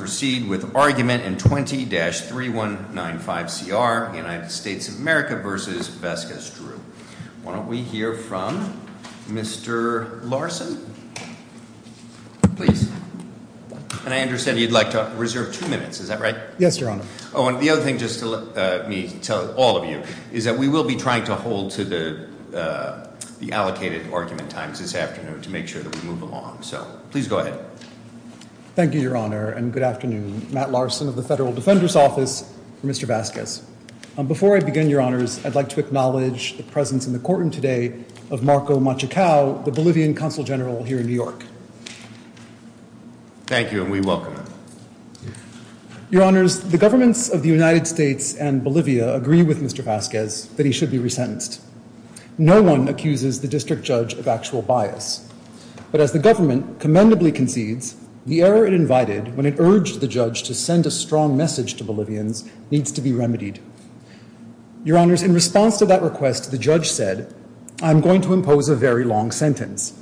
We will proceed with argument in 20-3195CR, United States of America v. Vasquez-Drew. Why don't we hear from Mr. Larson? Please. And I understand you'd like to reserve two minutes, is that right? Yes, Your Honor. Oh, and the other thing, just to let me tell all of you, is that we will be trying to hold to the allocated argument times this afternoon to make sure that we move along. So, please go ahead. Thank you, Your Honor, and good afternoon. Matt Larson of the Federal Defender's Office for Mr. Vasquez. Before I begin, Your Honors, I'd like to acknowledge the presence in the courtroom today of Marco Machacao, the Bolivian Consul General here in New York. Thank you, and we welcome him. Your Honors, the governments of the United States and Bolivia agree with Mr. Vasquez that he should be resentenced. No one accuses the district judge of actual bias. But as the government commendably concedes, the error it invited when it urged the judge to send a strong message to Bolivians needs to be remedied. Your Honors, in response to that request, the judge said, I'm going to impose a very long sentence.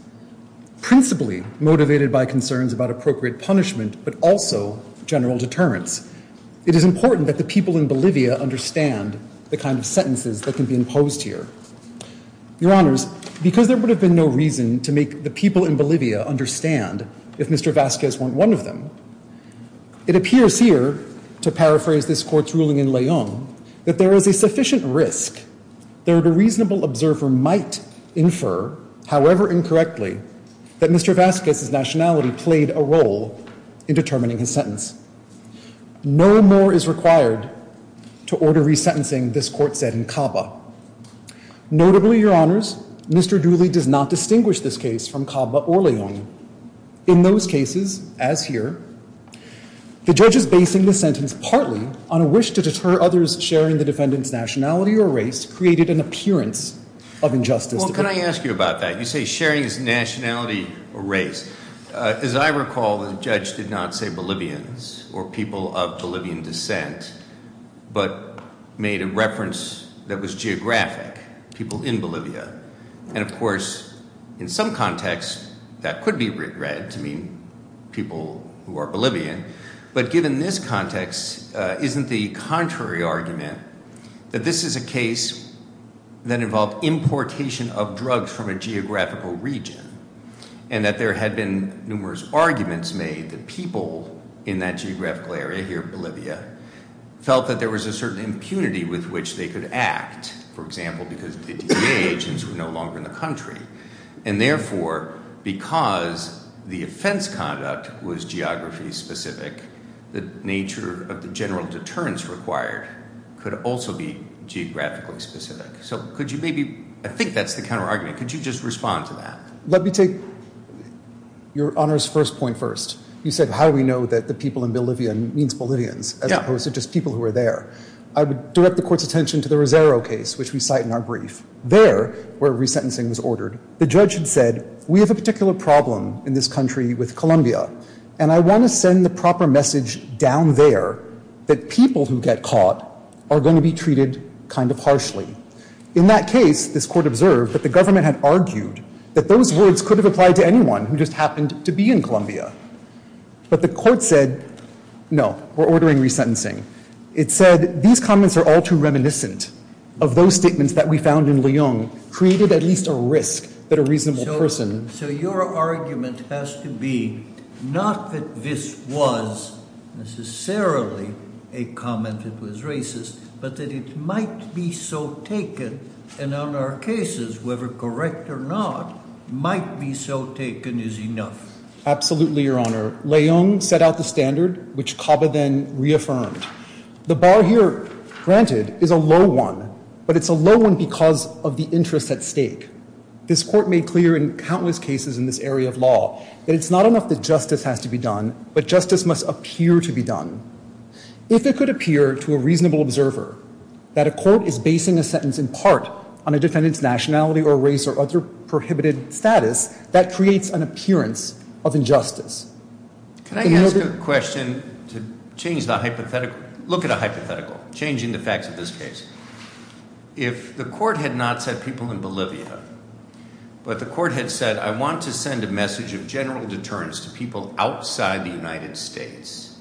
Principally motivated by concerns about appropriate punishment, but also general deterrence. It is important that the people in Bolivia understand the kind of sentences that can be imposed here. Your Honors, because there would have been no reason to make the people in Bolivia understand if Mr. Vasquez weren't one of them, it appears here, to paraphrase this court's ruling in Leung, that there is a sufficient risk that a reasonable observer might infer, however incorrectly, that Mr. Vasquez's nationality played a role in determining his sentence. No more is required to order resentencing, this court said in CABA. Notably, Your Honors, Mr. Dooley does not distinguish this case from CABA or Leung. In those cases, as here, the judge's basing the sentence partly on a wish to deter others sharing the defendant's nationality or race created an appearance of injustice. Well, can I ask you about that? You say sharing his nationality or race. As I recall, the judge did not say Bolivians or people of Bolivian descent, but made a reference that was geographic, people in Bolivia. And, of course, in some context, that could be read to mean people who are Bolivian. But given this context, isn't the contrary argument that this is a case that involved importation of drugs from a geographical region and that there had been numerous arguments made that people in that geographical area here, Bolivia, felt that there was a certain impunity with which they could act, for example, because the DEA agents were no longer in the country. And therefore, because the offense conduct was geography specific, the nature of the general deterrence required could also be geographically specific. So could you maybe, I think that's the counterargument, could you just respond to that? Let me take your Honor's first point first. You said how we know that the people in Bolivia means Bolivians, as opposed to just people who are there. I would direct the Court's attention to the Rosero case, which we cite in our brief. There, where resentencing was ordered, the judge had said, we have a particular problem in this country with Colombia, and I want to send the proper message down there that people who get caught are going to be treated kind of harshly. In that case, this Court observed that the government had argued that those words could have applied to anyone who just happened to be in Colombia. But the Court said, no, we're ordering resentencing. It said these comments are all too reminiscent of those statements that we found in Leung, created at least a risk that a reasonable person— and on our cases, whether correct or not, might be so taken as enough. Absolutely, Your Honor. Leung set out the standard, which CABA then reaffirmed. The bar here, granted, is a low one, but it's a low one because of the interest at stake. This Court made clear in countless cases in this area of law that it's not enough that justice has to be done, but justice must appear to be done. If it could appear to a reasonable observer that a court is basing a sentence in part on a defendant's nationality or race or other prohibited status, that creates an appearance of injustice. Can I ask a question to change the hypothetical? Look at a hypothetical, changing the facts of this case. If the Court had not said people in Bolivia, but the Court had said, I want to send a message of general deterrence to people outside the United States,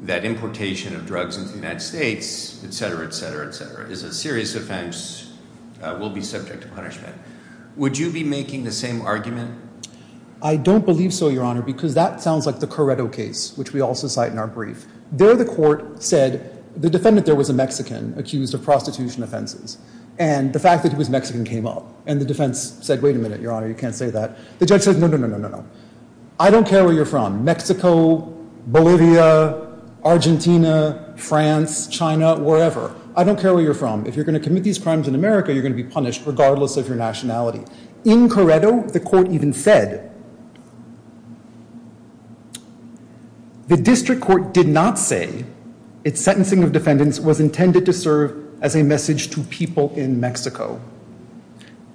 that importation of drugs into the United States, etc., etc., etc., is a serious offense, will be subject to punishment. Would you be making the same argument? I don't believe so, Your Honor, because that sounds like the Corretto case, which we also cite in our brief. There, the Court said, the defendant there was a Mexican accused of prostitution offenses, and the fact that he was Mexican came up. And the defense said, wait a minute, Your Honor, you can't say that. The judge said, no, no, no, no, no, no. I don't care where you're from, Mexico, Bolivia, Argentina, France, China, wherever. I don't care where you're from. If you're going to commit these crimes in America, you're going to be punished, regardless of your nationality. In Corretto, the Court even said, the district court did not say its sentencing of defendants was intended to serve as a message to people in Mexico.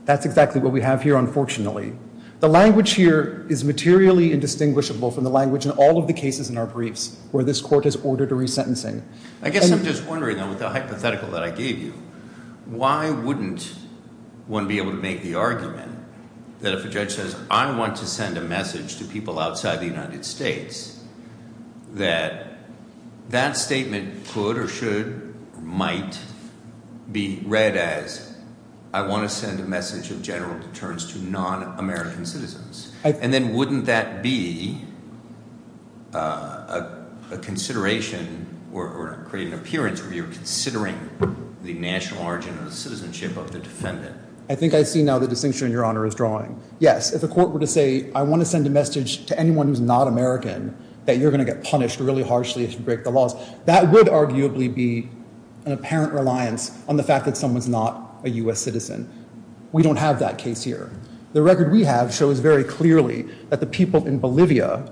That's exactly what we have here, unfortunately. The language here is materially indistinguishable from the language in all of the cases in our briefs where this Court has ordered a resentencing. I guess I'm just wondering, though, with the hypothetical that I gave you, why wouldn't one be able to make the argument that if a judge says, I want to send a message to people outside the United States, that that statement could or should or might be read as, I want to send a message of general deterrence to non-American citizens. And then wouldn't that be a consideration or create an appearance where you're considering the national origin of the citizenship of the defendant? I think I see now the distinction Your Honor is drawing. Yes, if a court were to say, I want to send a message to anyone who's not American, that you're going to get punished really harshly if you break the laws. That would arguably be an apparent reliance on the fact that someone's not a U.S. citizen. We don't have that case here. The record we have shows very clearly that the people in Bolivia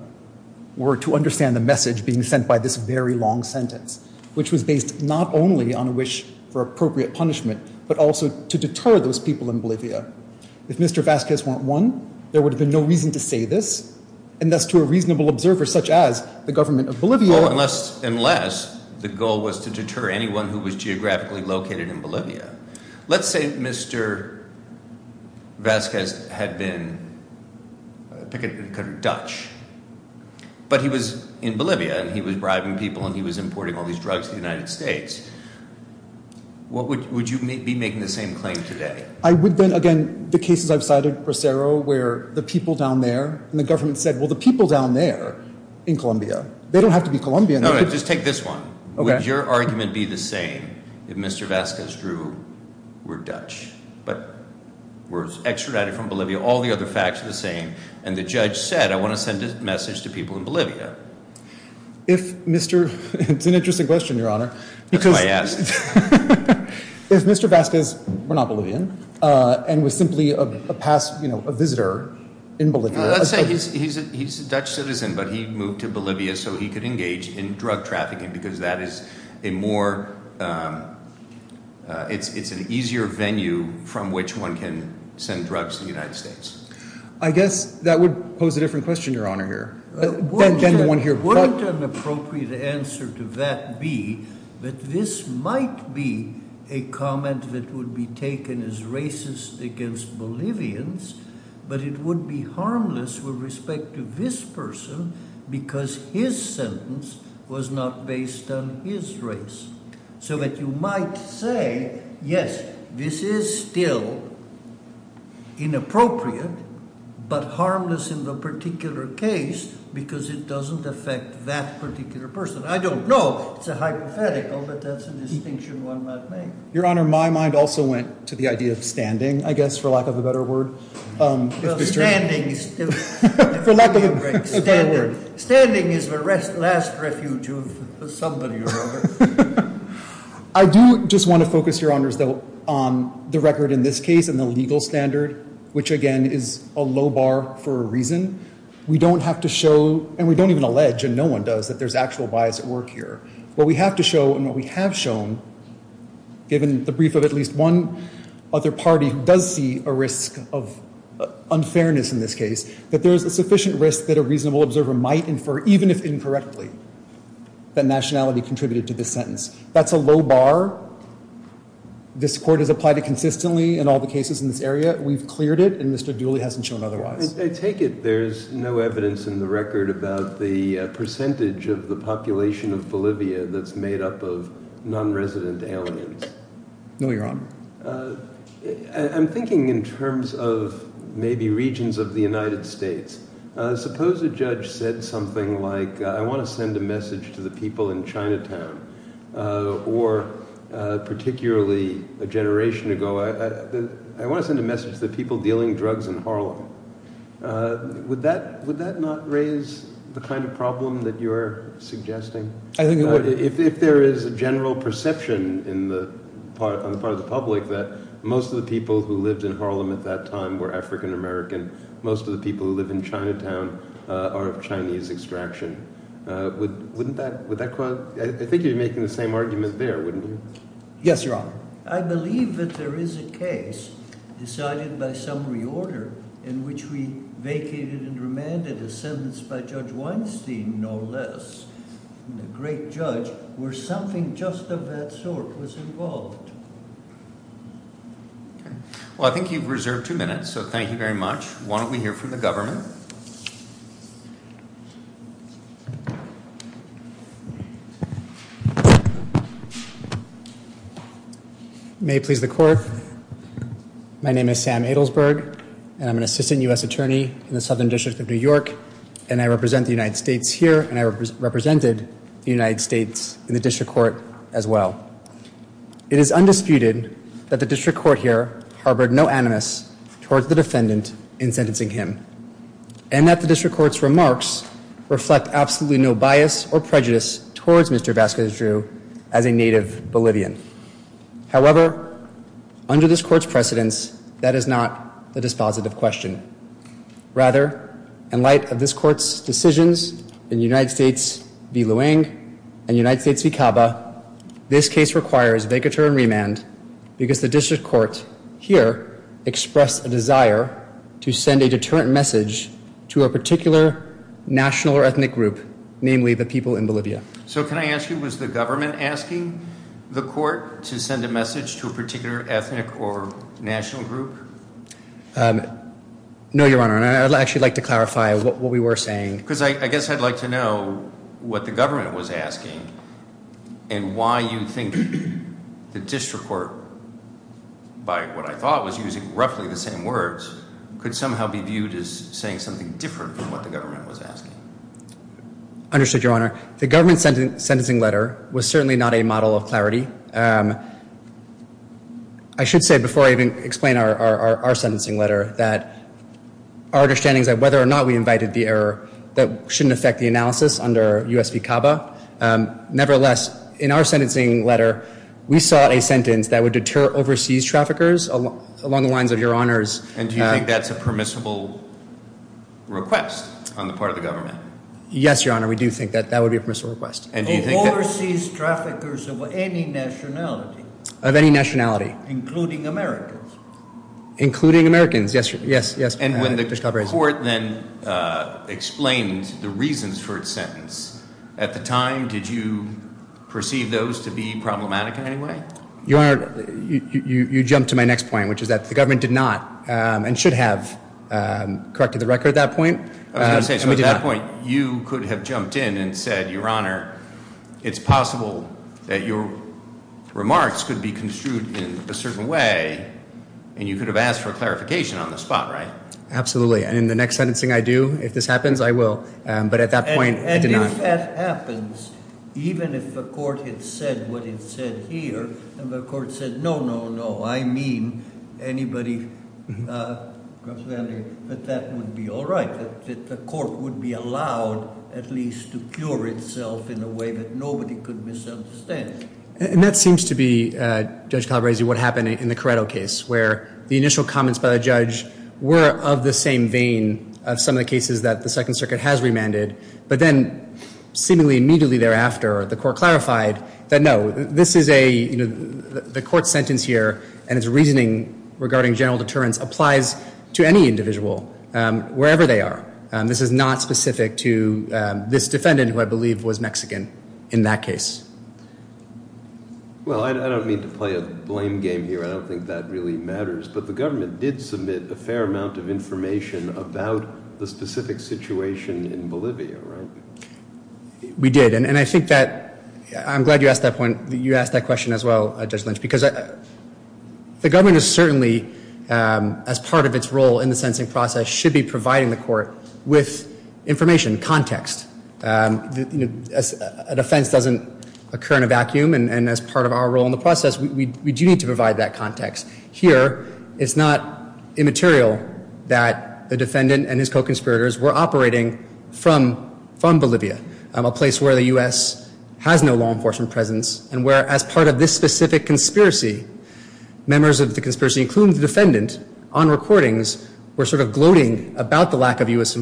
were to understand the message being sent by this very long sentence, which was based not only on a wish for appropriate punishment, but also to deter those people in Bolivia. If Mr. Vazquez weren't one, there would have been no reason to say this, and thus to a reasonable observer such as the government of Bolivia. Unless the goal was to deter anyone who was geographically located in Bolivia. Let's say Mr. Vazquez had been Dutch, but he was in Bolivia and he was bribing people and he was importing all these drugs to the United States. Would you be making the same claim today? I would then, again, the cases I've cited, Bracero, where the people down there and the government said, well, the people down there in Colombia, they don't have to be Colombian. No, just take this one. Would your argument be the same if Mr. Vazquez drew we're Dutch, but we're extradited from Bolivia? All the other facts are the same. And the judge said, I want to send a message to people in Bolivia. It's an interesting question, Your Honor. That's why I asked. If Mr. Vazquez were not Bolivian and was simply a visitor in Bolivia. Let's say he's a Dutch citizen, but he moved to Bolivia so he could engage in drug trafficking because that is a more, it's an easier venue from which one can send drugs to the United States. I guess that would pose a different question, Your Honor, here. Wouldn't an appropriate answer to that be that this might be a comment that would be taken as racist against Bolivians, but it would be harmless with respect to this person because his sentence was not based on his race. So that you might say, yes, this is still inappropriate, but harmless in the particular case because it doesn't affect that particular person. I don't know. It's a hypothetical, but that's a distinction one might make. Your Honor, my mind also went to the idea of standing, I guess, for lack of a better word. Standing is the last refuge of somebody, Your Honor. I do just want to focus, Your Honors, though, on the record in this case and the legal standard, which again is a low bar for a reason. We don't have to show, and we don't even allege, and no one does, that there's actual bias at work here. What we have to show and what we have shown, given the brief of at least one other party who does see a risk of unfairness in this case, that there is a sufficient risk that a reasonable observer might infer, even if incorrectly, that nationality contributed to this sentence. That's a low bar. This Court has applied it consistently in all the cases in this area. We've cleared it, and Mr. Dooley hasn't shown otherwise. I take it there's no evidence in the record about the percentage of the population of Bolivia that's made up of nonresident aliens? No, Your Honor. I'm thinking in terms of maybe regions of the United States. Suppose a judge said something like, I want to send a message to the people in Chinatown, or particularly a generation ago, I want to send a message to the people dealing drugs in Harlem. Would that not raise the kind of problem that you're suggesting? I think it would. If there is a general perception on the part of the public that most of the people who lived in Harlem at that time were African American, most of the people who live in Chinatown are of Chinese extraction, wouldn't that cause – I think you're making the same argument there, wouldn't you? Yes, Your Honor. I believe that there is a case decided by some reorder in which we vacated and remanded a sentence by Judge Weinstein, no less, a great judge, where something just of that sort was involved. Okay. Well, I think you've reserved two minutes, so thank you very much. Why don't we hear from the government? May it please the Court. My name is Sam Adelsberg, and I'm an assistant U.S. attorney in the Southern District of New York, and I represent the United States here, and I represented the United States in the district court as well. It is undisputed that the district court here harbored no animus towards the defendant in sentencing him, and that the district court's remarks reflect absolutely no bias or prejudice towards Mr. Vasquez Drew as a native Bolivian. However, under this court's precedence, that is not the dispositive question. Rather, in light of this court's decisions in United States v. Luang and United States v. Caba, this case requires vacatur and remand because the district court here expressed a desire to send a deterrent message to a particular national or ethnic group, namely the people in Bolivia. So can I ask you, was the government asking the court to send a message to a particular ethnic or national group? No, Your Honor, and I'd actually like to clarify what we were saying. Because I guess I'd like to know what the government was asking and why you think the district court, by what I thought was using roughly the same words, could somehow be viewed as saying something different from what the government was asking. Understood, Your Honor. The government's sentencing letter was certainly not a model of clarity. I should say, before I even explain our sentencing letter, that our understanding is that whether or not we invited the error, that shouldn't affect the analysis under U.S. v. Caba. Nevertheless, in our sentencing letter, we sought a sentence that would deter overseas traffickers along the lines of Your Honor's And do you think that's a permissible request on the part of the government? Yes, Your Honor, we do think that that would be a permissible request. And do you think that Overseas traffickers of any nationality Of any nationality Including Americans Including Americans, yes. And when the court then explained the reasons for its sentence, at the time, did you perceive those to be problematic in any way? Your Honor, you jump to my next point, which is that the government did not, and should have, corrected the record at that point. I was going to say, at that point, you could have jumped in and said, Your Honor, It's possible that your remarks could be construed in a certain way, and you could have asked for clarification on the spot, right? Absolutely. And in the next sentencing I do, if this happens, I will. But at that point, I did not. And if that happens, even if the court had said what it said here, and the court said, no, no, no, I mean anybody, But that would be all right. The court would be allowed, at least, to cure itself in a way that nobody could misunderstand. And that seems to be, Judge Calabresi, what happened in the Corretto case, where the initial comments by the judge were of the same vein of some of the cases that the Second Circuit has remanded. But then, seemingly immediately thereafter, the court clarified that, no, this is a, you know, the court's sentence here and its reasoning regarding general deterrence applies to any individual, wherever they are. This is not specific to this defendant, who I believe was Mexican in that case. Well, I don't mean to play a blame game here. I don't think that really matters. But the government did submit a fair amount of information about the specific situation in Bolivia, right? We did. And I think that, I'm glad you asked that point, you asked that question as well, Judge Lynch. Because the government is certainly, as part of its role in the sentencing process, should be providing the court with information, context. A defense doesn't occur in a vacuum. And as part of our role in the process, we do need to provide that context. Here, it's not immaterial that the defendant and his co-conspirators were operating from Bolivia, a place where the U.S. has no law enforcement presence. And where, as part of this specific conspiracy, members of the conspiracy, including the defendant, on recordings, were sort of gloating about the lack of U.S.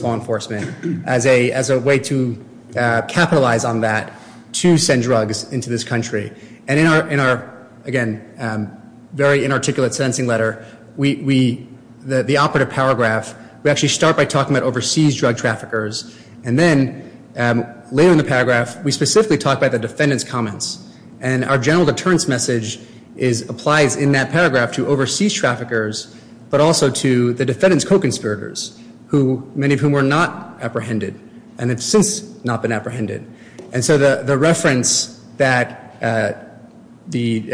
law enforcement as a way to capitalize on that to send drugs into this country. And in our, again, very inarticulate sentencing letter, the operative paragraph, we actually start by talking about overseas drug traffickers. And then, later in the paragraph, we specifically talk about the defendant's comments. And our general deterrence message applies in that paragraph to overseas traffickers, but also to the defendant's co-conspirators, many of whom were not apprehended and have since not been apprehended. And so the reference that the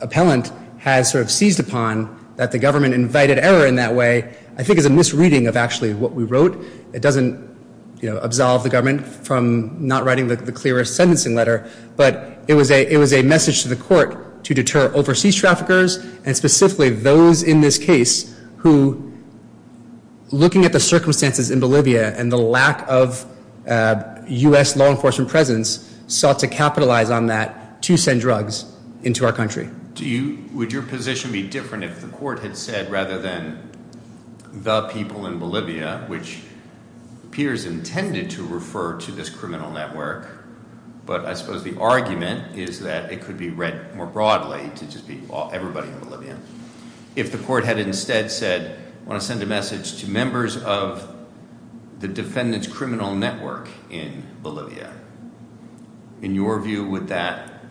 appellant has sort of seized upon, that the government invited error in that way, I think is a misreading of actually what we wrote. It doesn't absolve the government from not writing the clearest sentencing letter, but it was a message to the court to deter overseas traffickers and specifically those in this case who, looking at the circumstances in Bolivia and the lack of U.S. law enforcement presence, sought to capitalize on that to send drugs into our country. Would your position be different if the court had said rather than the people in Bolivia, which appears intended to refer to this criminal network, but I suppose the argument is that it could be read more broadly to just be everybody in Bolivia. If the court had instead said, I want to send a message to members of the defendant's criminal network in Bolivia, in your view, would that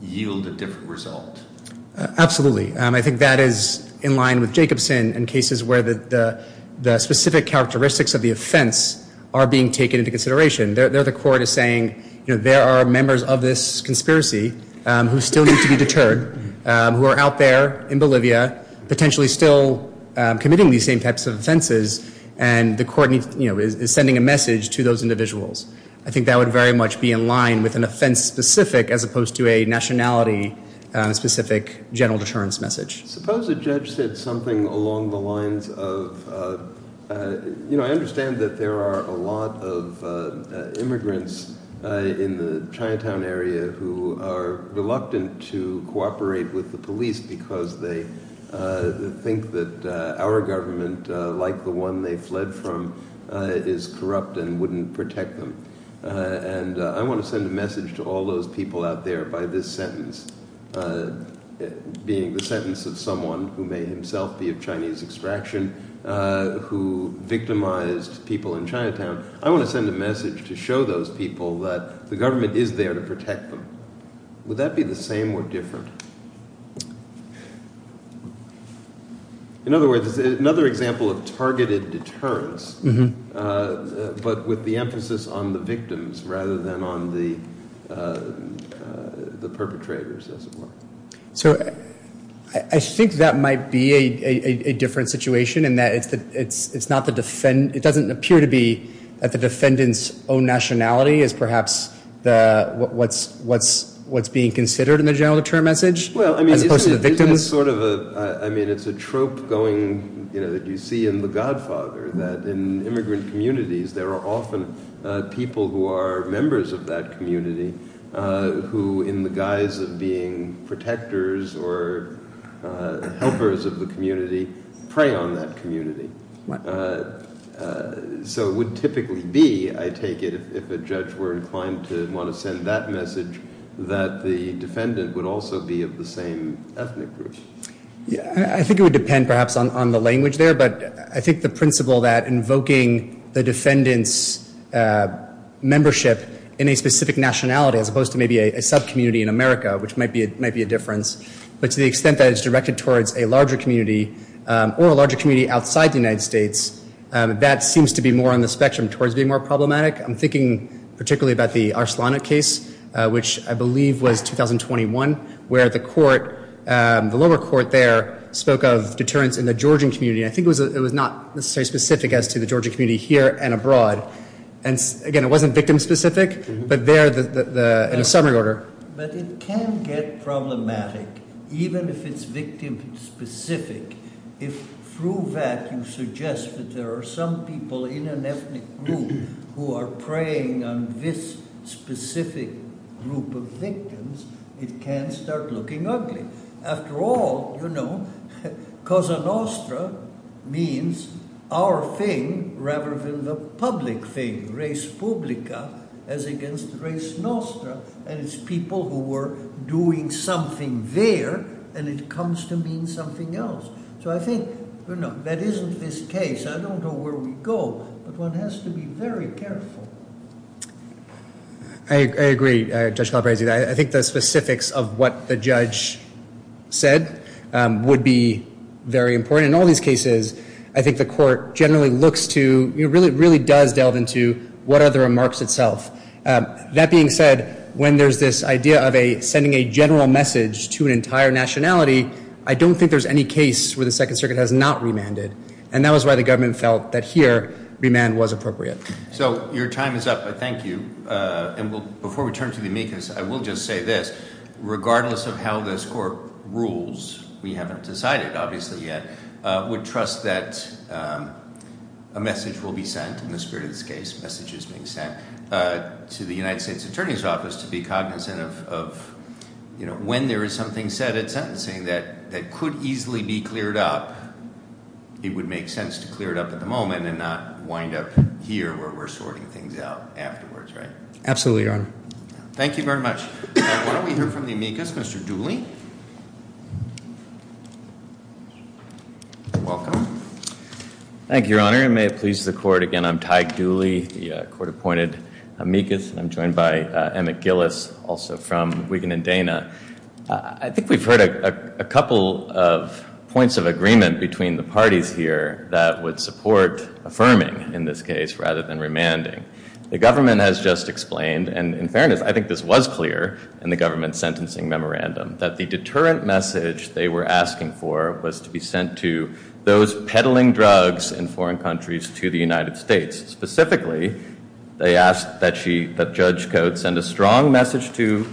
yield a different result? Absolutely. I think that is in line with Jacobson and cases where the specific characteristics of the offense are being taken into consideration. There the court is saying, you know, there are members of this conspiracy who still need to be deterred, who are out there in Bolivia potentially still committing these same types of offenses, and the court is sending a message to those individuals. I think that would very much be in line with an offense specific as opposed to a nationality specific general deterrence message. Suppose a judge said something along the lines of, you know, I understand that there are a lot of immigrants in the Chinatown area who are reluctant to cooperate with the police because they think that our government, like the one they fled from, is corrupt and wouldn't protect them. And I want to send a message to all those people out there by this sentence, being the sentence of someone who may himself be of Chinese extraction, who victimized people in Chinatown. I want to send a message to show those people that the government is there to protect them. Would that be the same or different? In other words, another example of targeted deterrence, but with the emphasis on the victims rather than on the perpetrators, as it were. So I think that might be a different situation in that it doesn't appear to be that the defendant's own nationality is perhaps what's being considered in the general deterrent message as opposed to the victim. Well, I mean, it's sort of a, I mean, it's a trope going, you know, that you see in The Godfather, that in immigrant communities there are often people who are members of that community who, in the guise of being protectors or helpers of the community, prey on that community. So it would typically be, I take it, if a judge were inclined to want to send that message, that the defendant would also be of the same ethnic group. Yeah, I think it would depend perhaps on the language there, but I think the principle that invoking the defendant's membership in a specific nationality, as opposed to maybe a sub-community in America, which might be a difference, but to the extent that it's directed towards a larger community or a larger community outside the United States, that seems to be more on the spectrum towards being more problematic. I'm thinking particularly about the Arslana case, which I believe was 2021, where the lower court there spoke of deterrence in the Georgian community. I think it was not necessarily specific as to the Georgian community here and abroad. And again, it wasn't victim-specific, but there in a summary order. But it can get problematic, even if it's victim-specific, if through that you suggest that there are some people in an ethnic group who are preying on this specific group of victims, it can start looking ugly. After all, you know, koza nostra means our thing rather than the public thing. Res publica as against res nostra, and it's people who were doing something there, and it comes to mean something else. So I think, you know, that isn't this case. I don't know where we go, but one has to be very careful. I agree, Judge Calabresi. I think the specifics of what the judge said would be very important. In all these cases, I think the court generally looks to, you know, really does delve into what are the remarks itself. That being said, when there's this idea of sending a general message to an entire nationality, I don't think there's any case where the Second Circuit has not remanded. And that was why the government felt that here remand was appropriate. So your time is up, but thank you. And before we turn to the amicus, I will just say this. Regardless of how this court rules, we haven't decided obviously yet, would trust that a message will be sent in the spirit of this case, messages being sent to the United States Attorney's Office to be cognizant of, you know, when there is something said at sentencing that could easily be cleared up, it would make sense to clear it up at the moment and not wind up here where we're sorting things out afterwards, right? Absolutely, Your Honor. Thank you very much. Why don't we hear from the amicus? Mr. Dooley? Thank you, Your Honor, and may it please the court. Again, I'm Ty Dooley, the court-appointed amicus. I'm joined by Emmett Gillis, also from Wigan and Dana. I think we've heard a couple of points of agreement between the parties here that would support affirming in this case rather than remanding. The government has just explained, and in fairness, I think this was clear in the government's sentencing memorandum, that the deterrent message they were asking for was to be sent to those peddling drugs in foreign countries to the United States. Specifically, they asked that Judge Coates send a strong message to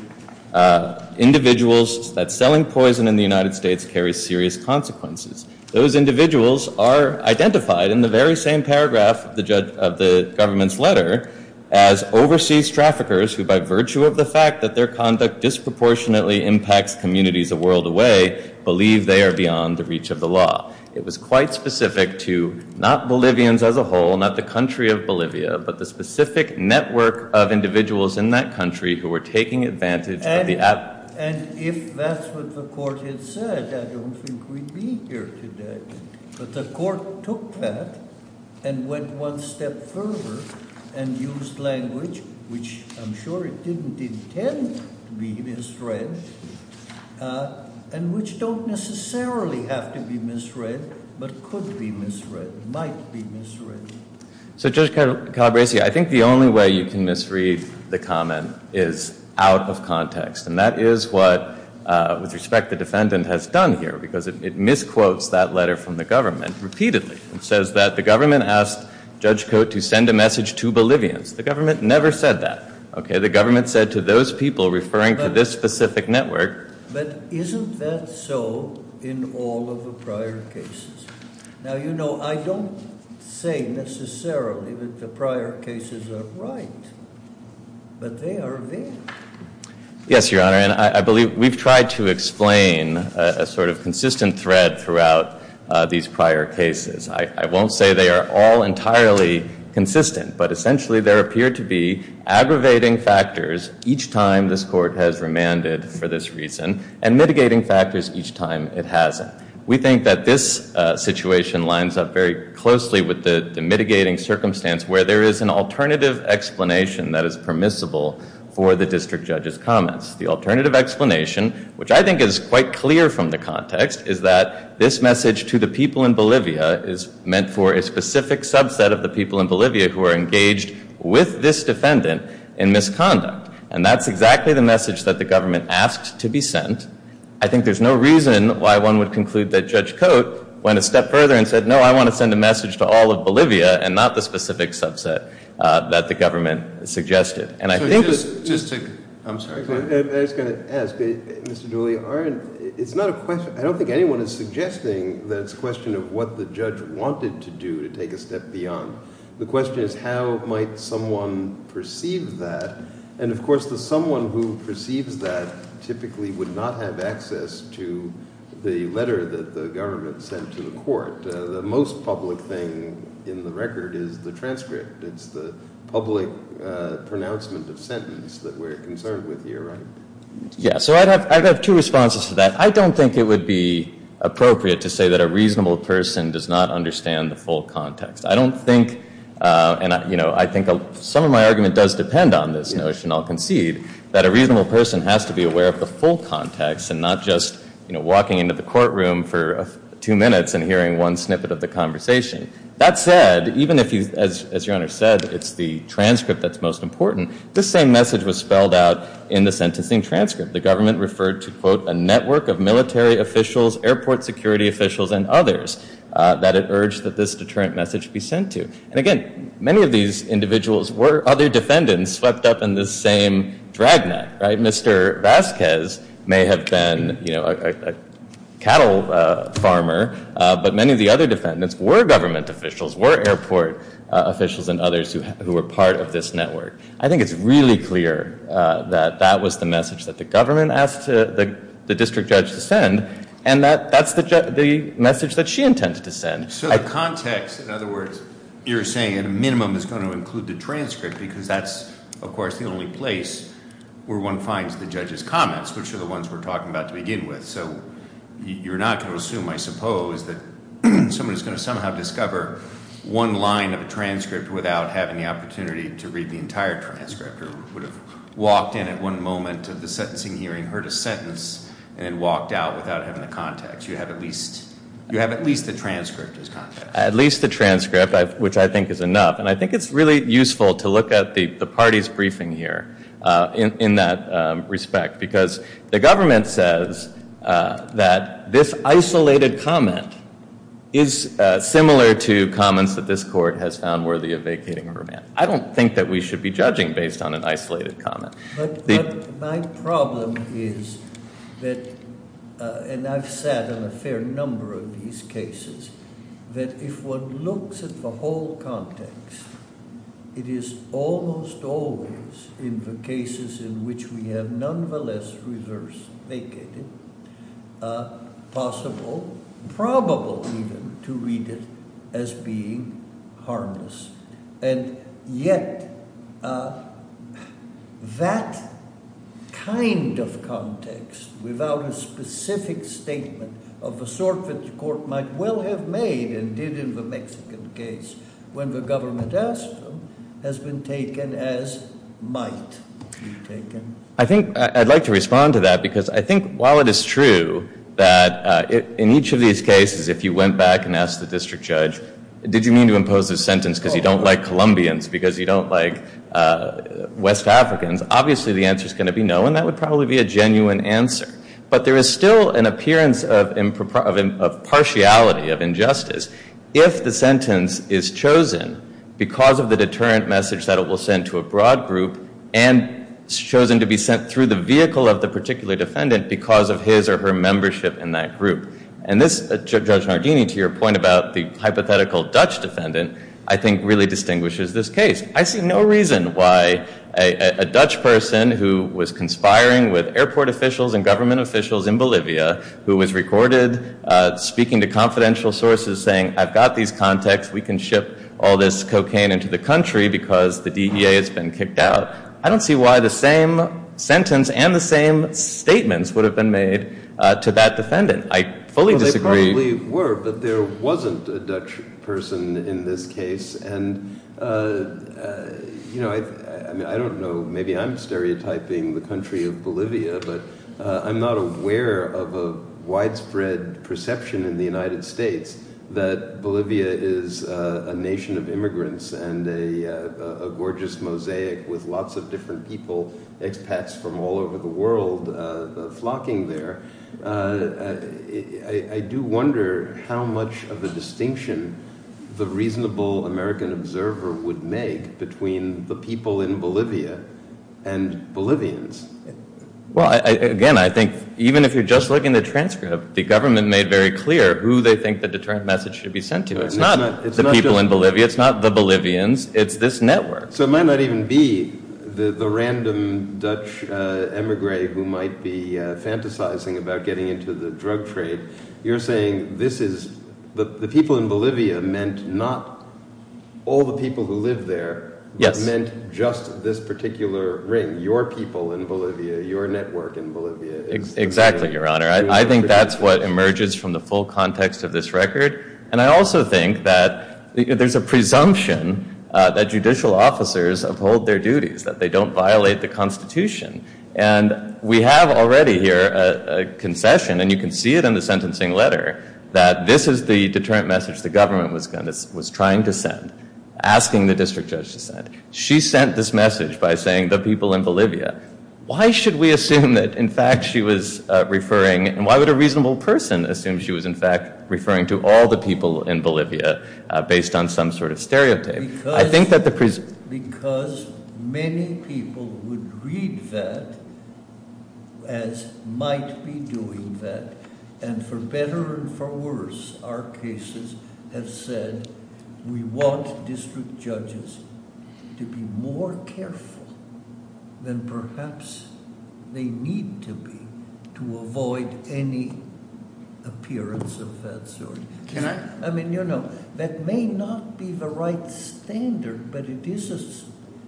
individuals that selling poison in the United States carries serious consequences. Those individuals are identified in the very same paragraph of the government's letter as overseas traffickers who, by virtue of the fact that their conduct disproportionately impacts communities a world away, believe they are beyond the reach of the law. It was quite specific to not Bolivians as a whole, not the country of Bolivia, but the specific network of individuals in that country who were taking advantage of the And if that's what the court had said, I don't think we'd be here today. But the court took that and went one step further and used language, which I'm sure it didn't intend to be misread, and which don't necessarily have to be misread, but could be misread, might be misread. So, Judge Calabresi, I think the only way you can misread the comment is out of context, and that is what, with respect, the defendant has done here, because it misquotes that letter from the government repeatedly. It says that the government asked Judge Coates to send a message to Bolivians. The government never said that, okay? The government said to those people referring to this specific network. But isn't that so in all of the prior cases? Now, you know, I don't say necessarily that the prior cases are right, but they are there. Yes, Your Honor, and I believe we've tried to explain a sort of consistent thread throughout these prior cases. I won't say they are all entirely consistent, but essentially there appear to be aggravating factors each time this court has remanded for this reason and mitigating factors each time it hasn't. We think that this situation lines up very closely with the mitigating circumstance where there is an alternative explanation that is permissible for the district judge's comments. The alternative explanation, which I think is quite clear from the context, is that this message to the people in Bolivia is meant for a specific subset of the people in Bolivia who are engaged with this defendant in misconduct. And that's exactly the message that the government asked to be sent. I think there's no reason why one would conclude that Judge Cote went a step further and said, no, I want to send a message to all of Bolivia and not the specific subset that the government suggested. And I think that— Just to—I'm sorry. I was going to ask, Mr. Dooley, aren't—it's not a question— I don't think anyone is suggesting that it's a question of what the judge wanted to do to take a step beyond. The question is how might someone perceive that. And, of course, the someone who perceives that typically would not have access to the letter that the government sent to the court. The most public thing in the record is the transcript. It's the public pronouncement of sentence that we're concerned with here, right? Yeah, so I'd have two responses to that. I don't think it would be appropriate to say that a reasonable person does not understand the full context. I don't think—and, you know, I think some of my argument does depend on this notion, I'll concede, that a reasonable person has to be aware of the full context and not just, you know, walking into the courtroom for two minutes and hearing one snippet of the conversation. That said, even if you—as your Honor said, it's the transcript that's most important. This same message was spelled out in the sentencing transcript. The government referred to, quote, a network of military officials, airport security officials, and others that it urged that this deterrent message be sent to. And, again, many of these individuals were other defendants swept up in this same dragnet, right? Mr. Vasquez may have been, you know, a cattle farmer, but many of the other defendants were government officials, were airport officials and others who were part of this network. I think it's really clear that that was the message that the government asked the district judge to send, and that's the message that she intended to send. So the context, in other words, you're saying at a minimum is going to include the transcript because that's, of course, the only place where one finds the judge's comments, which are the ones we're talking about to begin with. So you're not going to assume, I suppose, that someone is going to somehow discover one line of a transcript without having the opportunity to read the entire transcript or would have walked in at one moment of the sentencing hearing, heard a sentence, and then walked out without having the context. You have at least the transcript as context. At least the transcript, which I think is enough. And I think it's really useful to look at the party's briefing here in that respect because the government says that this isolated comment is similar to comments that this court has found worthy of vacating a remand. I don't think that we should be judging based on an isolated comment. But my problem is that, and I've sat on a fair number of these cases, that if one looks at the whole context, it is almost always in the cases in which we have nonetheless reversed vacated, possible, probable even, to read it as being harmless. And yet that kind of context without a specific statement of the sort that the court might well have made and did in the Mexican case when the government asked them has been taken as might be taken. I think I'd like to respond to that because I think while it is true that in each of these cases, if you went back and asked the district judge, did you mean to impose this sentence because you don't like Colombians, because you don't like West Africans, obviously the answer is going to be no. And that would probably be a genuine answer. But there is still an appearance of partiality, of injustice, if the sentence is chosen because of the deterrent message that it will send to a broad group and chosen to be sent through the vehicle of the particular defendant because of his or her membership in that group. And this, Judge Nardini, to your point about the hypothetical Dutch defendant, I think really distinguishes this case. I see no reason why a Dutch person who was conspiring with airport officials and government officials in Bolivia, who was recorded speaking to confidential sources saying I've got these contacts, we can ship all this cocaine into the country because the DEA has been kicked out. I don't see why the same sentence and the same statements would have been made to that defendant. I fully disagree. Well, they probably were, but there wasn't a Dutch person in this case. And, you know, I don't know, maybe I'm stereotyping the country of Bolivia, but I'm not aware of a widespread perception in the United States that Bolivia is a nation of immigrants and a gorgeous mosaic with lots of different people, expats from all over the world flocking there. I do wonder how much of a distinction the reasonable American observer would make between the people in Bolivia and Bolivians. Well, again, I think even if you're just looking at the transcript, the government made very clear who they think the deterrent message should be sent to. It's not the people in Bolivia. It's not the Bolivians. It's this network. So it might not even be the random Dutch emigre who might be fantasizing about getting into the drug trade. You're saying this is the people in Bolivia meant not all the people who live there. Yes. It meant just this particular ring, your people in Bolivia, your network in Bolivia. Exactly, Your Honor. I think that's what emerges from the full context of this record. And I also think that there's a presumption that judicial officers uphold their duties, that they don't violate the Constitution. And we have already here a concession, and you can see it in the sentencing letter, that this is the deterrent message the government was trying to send, asking the district judge to send. She sent this message by saying the people in Bolivia. Why should we assume that, in fact, she was referring, and why would a reasonable person assume she was, in fact, referring to all the people in Bolivia, based on some sort of stereotype? Because many people would read that as might be doing that, and for better or for worse, our cases have said we want district judges to be more careful than perhaps they need to be to avoid any appearance of that sort. Can I- I mean, you know, that may not be the right standard, but it is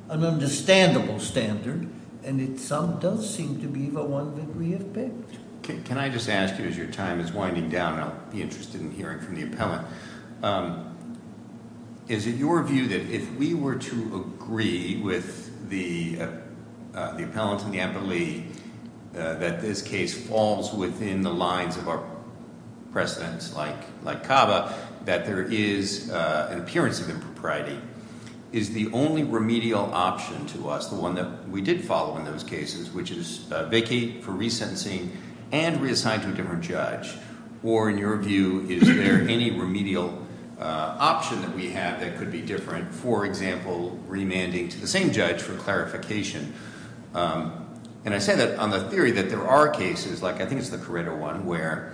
an understandable standard, and it some does seem to be the one that we have picked. Can I just ask you, as your time is winding down, and I'll be interested in hearing from the appellant, is it your view that if we were to agree with the appellant and the appellee that this case falls within the lines of our precedence, like Cava, that there is an appearance of impropriety? Is the only remedial option to us, the one that we did follow in those cases, which is vacate for resentencing and reassign to a different judge, or in your view, is there any remedial option that we have that could be different, for example, remanding to the same judge for clarification? And I say that on the theory that there are cases, like I think it's the Corrida one, where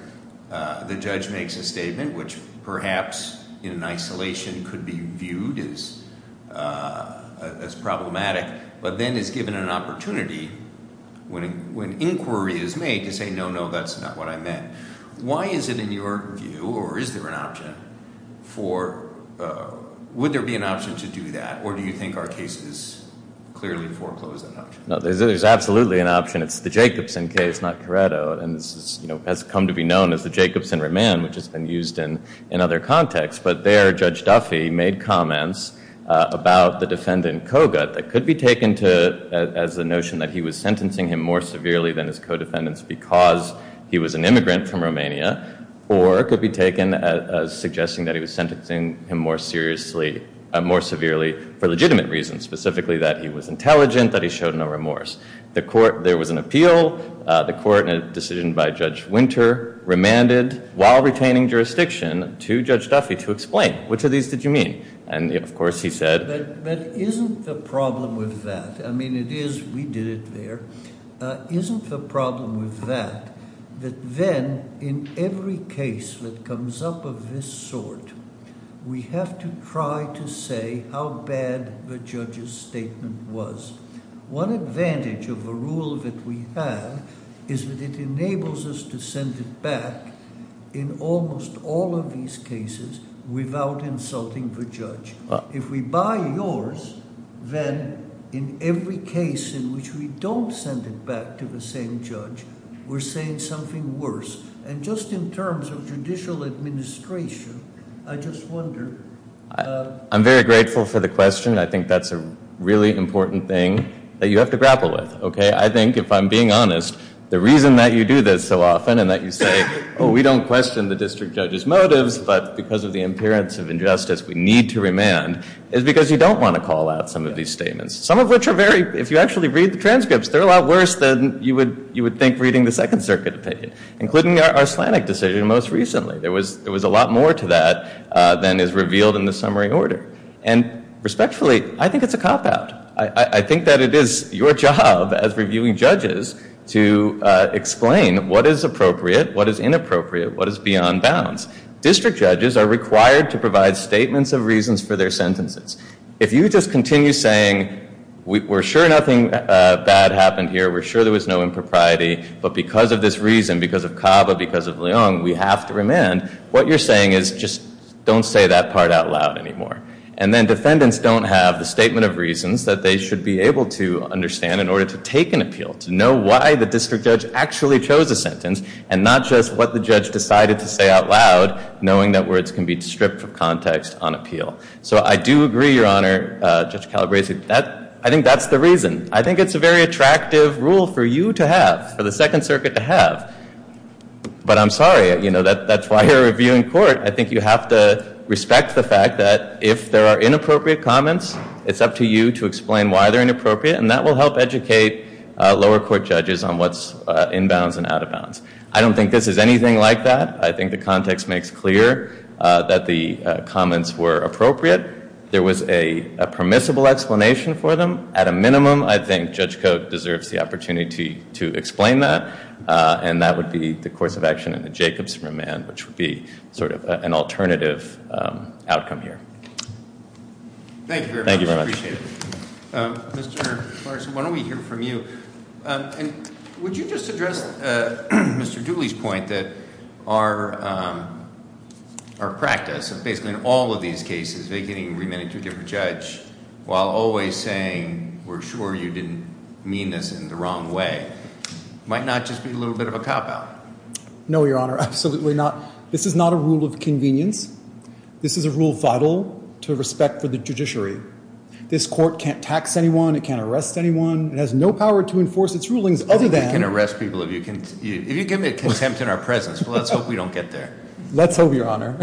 the judge makes a statement which perhaps in isolation could be viewed as problematic, but then is given an opportunity when inquiry is made to say, no, no, that's not what I meant. Why is it in your view, or is there an option for, would there be an option to do that, or do you think our case is clearly foreclosed on that? No, there's absolutely an option. It's the Jacobson case, not Corrida, and this has come to be known as the Jacobson remand, which has been used in other contexts. But there, Judge Duffy made comments about the defendant, Kogut, that could be taken as the notion that he was sentencing him more severely than his co-defendants because he was an immigrant from Romania, or could be taken as suggesting that he was sentencing him more severely for legitimate reasons, specifically that he was intelligent, that he showed no remorse. There was an appeal. The court, in a decision by Judge Winter, remanded, while retaining jurisdiction, to Judge Duffy to explain. Which of these did you mean? And, of course, he said- But isn't the problem with that, I mean, it is, we did it there. Isn't the problem with that that then, in every case that comes up of this sort, we have to try to say how bad the judge's statement was. One advantage of the rule that we have is that it enables us to send it back in almost all of these cases without insulting the judge. If we buy yours, then in every case in which we don't send it back to the same judge, we're saying something worse. And just in terms of judicial administration, I just wonder- I'm very grateful for the question. I think that's a really important thing that you have to grapple with, okay? I think, if I'm being honest, the reason that you do this so often and that you say, oh, we don't question the district judge's motives, but because of the appearance of injustice, we need to remand, is because you don't want to call out some of these statements. Some of which are very- if you actually read the transcripts, they're a lot worse than you would think reading the Second Circuit opinion, including the Arslanic decision most recently. There was a lot more to that than is revealed in the summary order. And, respectfully, I think it's a cop-out. I think that it is your job, as reviewing judges, to explain what is appropriate, what is inappropriate, what is beyond bounds. District judges are required to provide statements of reasons for their sentences. If you just continue saying, we're sure nothing bad happened here, we're sure there was no impropriety, but because of this reason, because of CABA, because of Leong, we have to remand, what you're saying is, just don't say that part out loud anymore. And then defendants don't have the statement of reasons that they should be able to understand in order to take an appeal, to know why the district judge actually chose a sentence, and not just what the judge decided to say out loud, knowing that words can be stripped of context on appeal. So I do agree, Your Honor, Judge Calabresi, I think that's the reason. I think it's a very attractive rule for you to have, for the Second Circuit to have. But I'm sorry, you know, that's why you're reviewing court. I think you have to respect the fact that if there are inappropriate comments, it's up to you to explain why they're inappropriate, and that will help educate lower court judges on what's in bounds and out of bounds. I don't think this is anything like that. I think the context makes clear that the comments were appropriate. There was a permissible explanation for them. At a minimum, I think Judge Koch deserves the opportunity to explain that, and that would be the course of action in the Jacobs remand, which would be sort of an alternative outcome here. Thank you very much. Thank you very much. I appreciate it. Mr. Clarkson, why don't we hear from you? And would you just address Mr. Dooley's point that our practice of basically in all of these cases, vacating and remanding two different judge while always saying we're sure you didn't mean this in the wrong way might not just be a little bit of a cop-out? No, Your Honor, absolutely not. This is not a rule of convenience. This is a rule vital to respect for the judiciary. This court can't tax anyone. It can't arrest anyone. It has no power to enforce its rulings other than- You can arrest people if you give me a contempt in our presence, but let's hope we don't get there. Let's hope, Your Honor.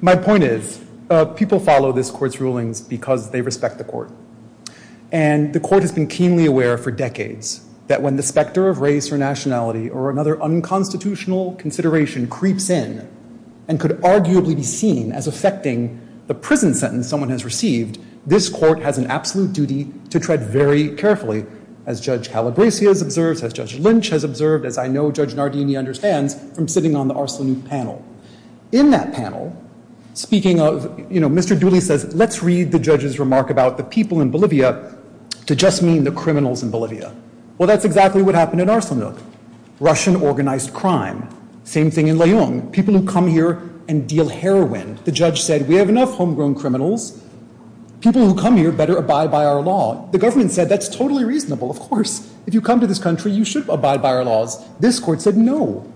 My point is people follow this court's rulings because they respect the court, and the court has been keenly aware for decades that when the specter of race or nationality or another unconstitutional consideration creeps in and could arguably be seen as affecting the prison sentence someone has received, this court has an absolute duty to tread very carefully, as Judge Calabresi has observed, as Judge Lynch has observed, as I know Judge Nardini understands from sitting on the Arslanu panel. In that panel, speaking of- Mr. Dooley says, let's read the judge's remark about the people in Bolivia to just mean the criminals in Bolivia. Well, that's exactly what happened in Arslanu. Russian organized crime. Same thing in Leung. People who come here and deal heroin. The judge said, we have enough homegrown criminals. People who come here better abide by our law. The government said, that's totally reasonable, of course. If you come to this country, you should abide by our laws. This court said, no.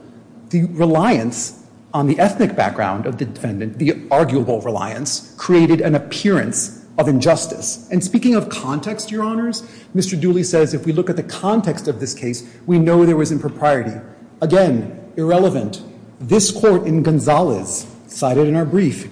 The reliance on the ethnic background of the defendant, the arguable reliance, created an appearance of injustice. And speaking of context, your honors, Mr. Dooley says, if we look at the context of this case, we know there was impropriety. Again, irrelevant. This court in Gonzales, cited in our brief,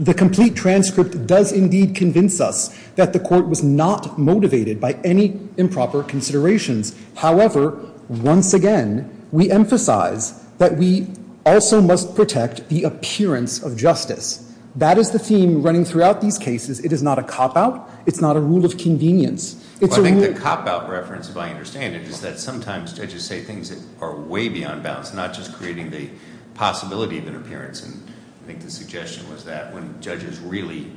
the complete transcript does indeed convince us that the court was not motivated by any improper considerations. However, once again, we emphasize that we also must protect the appearance of justice. That is the theme running throughout these cases. It is not a cop-out. It's not a rule of convenience. Well, I think the cop-out reference, if I understand it, is that sometimes judges say things that are way beyond bounds, not just creating the possibility of an appearance. And I think the suggestion was that when judges really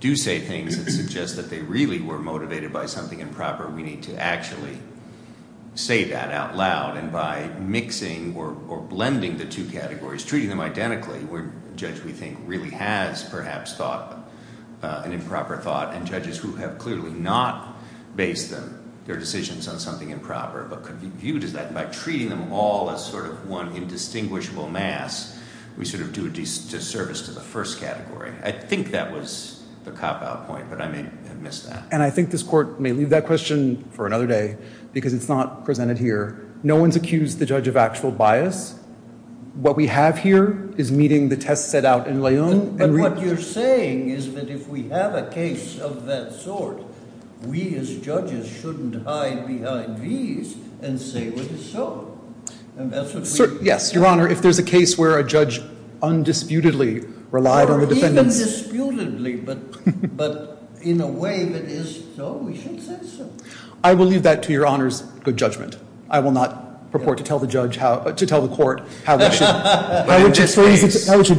do say things that suggest that they really were motivated by something improper, we need to actually say that out loud. And by mixing or blending the two categories, treating them identically, where a judge, we think, really has perhaps thought an improper thought, and judges who have clearly not based their decisions on something improper but could be viewed as that, by treating them all as sort of one indistinguishable mass, we sort of do a disservice to the first category. I think that was the cop-out point, but I may have missed that. And I think this court may leave that question for another day because it's not presented here. No one's accused the judge of actual bias. What we have here is meeting the test set out in Leon. But what you're saying is that if we have a case of that sort, we as judges shouldn't hide behind these and say what is so. Yes, Your Honor, if there's a case where a judge undisputedly relied on the defendants. Undisputedly, but in a way that is so, we should say so. I will leave that to Your Honor's good judgment. I will not purport to tell the court how it should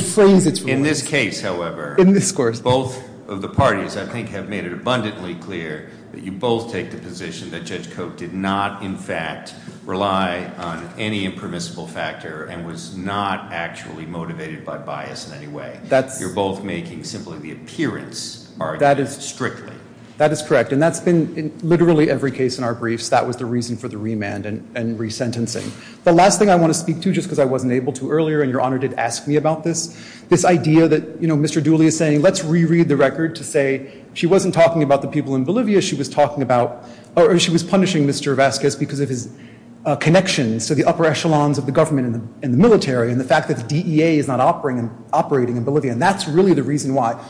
phrase its ruling. In this case, however, both of the parties, I think, have made it abundantly clear that you both take the position that Judge Cote did not, in fact, rely on any impermissible factor and was not actually motivated by bias in any way. You're both making simply the appearance are strictly. That is correct. And that's been literally every case in our briefs. That was the reason for the remand and resentencing. The last thing I want to speak to, just because I wasn't able to earlier, and Your Honor did ask me about this, this idea that Mr. Dooley is saying let's reread the record to say she wasn't talking about the people in Bolivia. She was punishing Mr. Vazquez because of his connections to the upper echelons of the government and the military and the fact that the DEA is not operating in Bolivia. And that's really the reason why.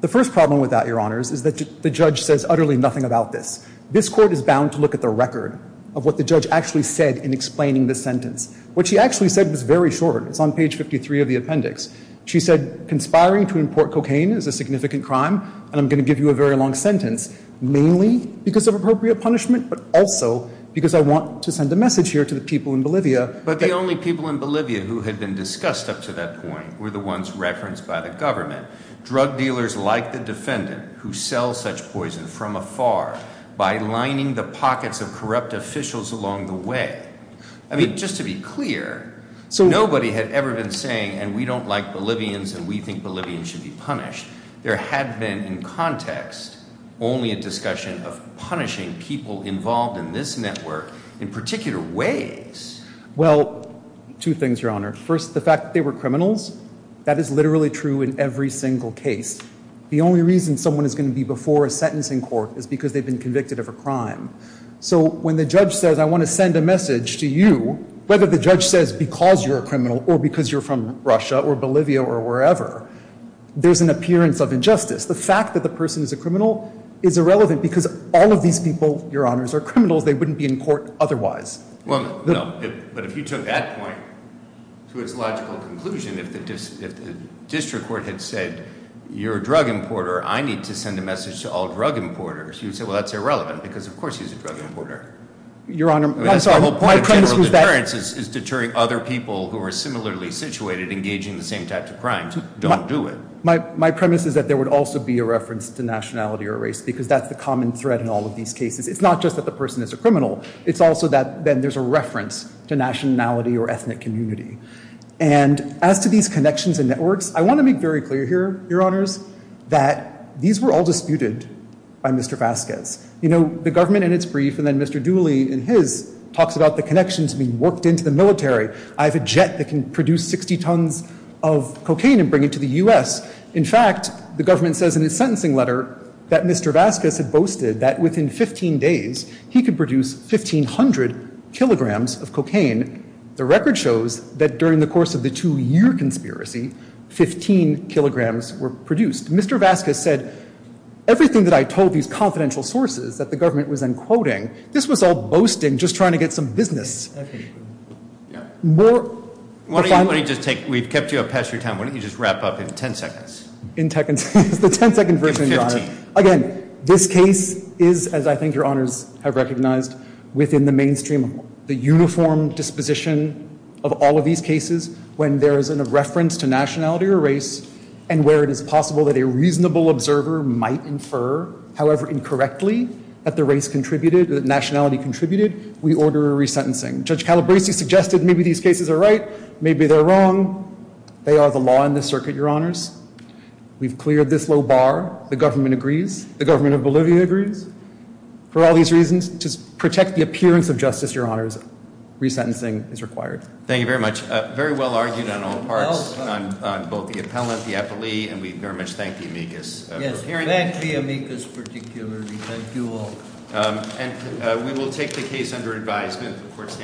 The first problem with that, Your Honors, is that the judge says utterly nothing about this. This Court is bound to look at the record of what the judge actually said in explaining this sentence. What she actually said was very short. It's on page 53 of the appendix. She said, conspiring to import cocaine is a significant crime, and I'm going to give you a very long sentence, but also because I want to send a message here to the people in Bolivia. But the only people in Bolivia who had been discussed up to that point were the ones referenced by the government. Drug dealers like the defendant who sell such poison from afar by lining the pockets of corrupt officials along the way. I mean, just to be clear, nobody had ever been saying, and we don't like Bolivians and we think Bolivians should be punished. There had been, in context, only a discussion of punishing people involved in this network in particular ways. Well, two things, Your Honor. First, the fact that they were criminals. That is literally true in every single case. The only reason someone is going to be before a sentencing court is because they've been convicted of a crime. So when the judge says, I want to send a message to you, whether the judge says because you're a criminal or because you're from Russia or Bolivia or wherever, there's an appearance of injustice. The fact that the person is a criminal is irrelevant because all of these people, Your Honors, are criminals. They wouldn't be in court otherwise. Well, no, but if you took that point to its logical conclusion, if the district court had said, you're a drug importer, I need to send a message to all drug importers, you'd say, well, that's irrelevant because, of course, he's a drug importer. Your Honor, I'm sorry, my premise was that... That's the whole point of general deterrence is deterring other people who are similarly situated engaging in the same types of crimes. Don't do it. My premise is that there would also be a reference to nationality or race because that's the common thread in all of these cases. It's not just that the person is a criminal. It's also that then there's a reference to nationality or ethnic community. And as to these connections and networks, I want to make very clear here, Your Honors, that these were all disputed by Mr. Vasquez. You know, the government in its brief, and then Mr. Dooley in his, talks about the connections being worked into the military. I have a jet that can produce 60 tons of cocaine and bring it to the US. In fact, the government says in its sentencing letter that Mr. Vasquez had boasted that within 15 days he could produce 1,500 kilograms of cocaine. The record shows that during the course of the two-year conspiracy, 15 kilograms were produced. Mr. Vasquez said, everything that I told these confidential sources that the government was then quoting, this was all boasting, just trying to get some business. More... Why don't you just take, we've kept you up past your time. Why don't you just wrap up in 10 seconds? In 10 seconds, the 10-second version, Your Honor. Again, this case is, as I think Your Honors have recognized, within the mainstream, the uniform disposition of all of these cases when there is a reference to nationality or race and where it is possible that a reasonable observer might infer, however incorrectly, that the race contributed, that nationality contributed, we order a resentencing. Judge Calabresi suggested maybe these cases are right, maybe they're wrong. They are the law in this circuit, Your Honors. We've cleared this low bar. The government agrees, the government of Bolivia agrees. For all these reasons, to protect the appearance of justice, Your Honors, resentencing is required. Thank you very much. Very well argued on all parts, on both the appellant, the appellee, and we very much thank the amicus for appearing. Yes, thank the amicus particularly. Thank you all. And we will take the case under advisement before it's hand-determined. Court is adjourned.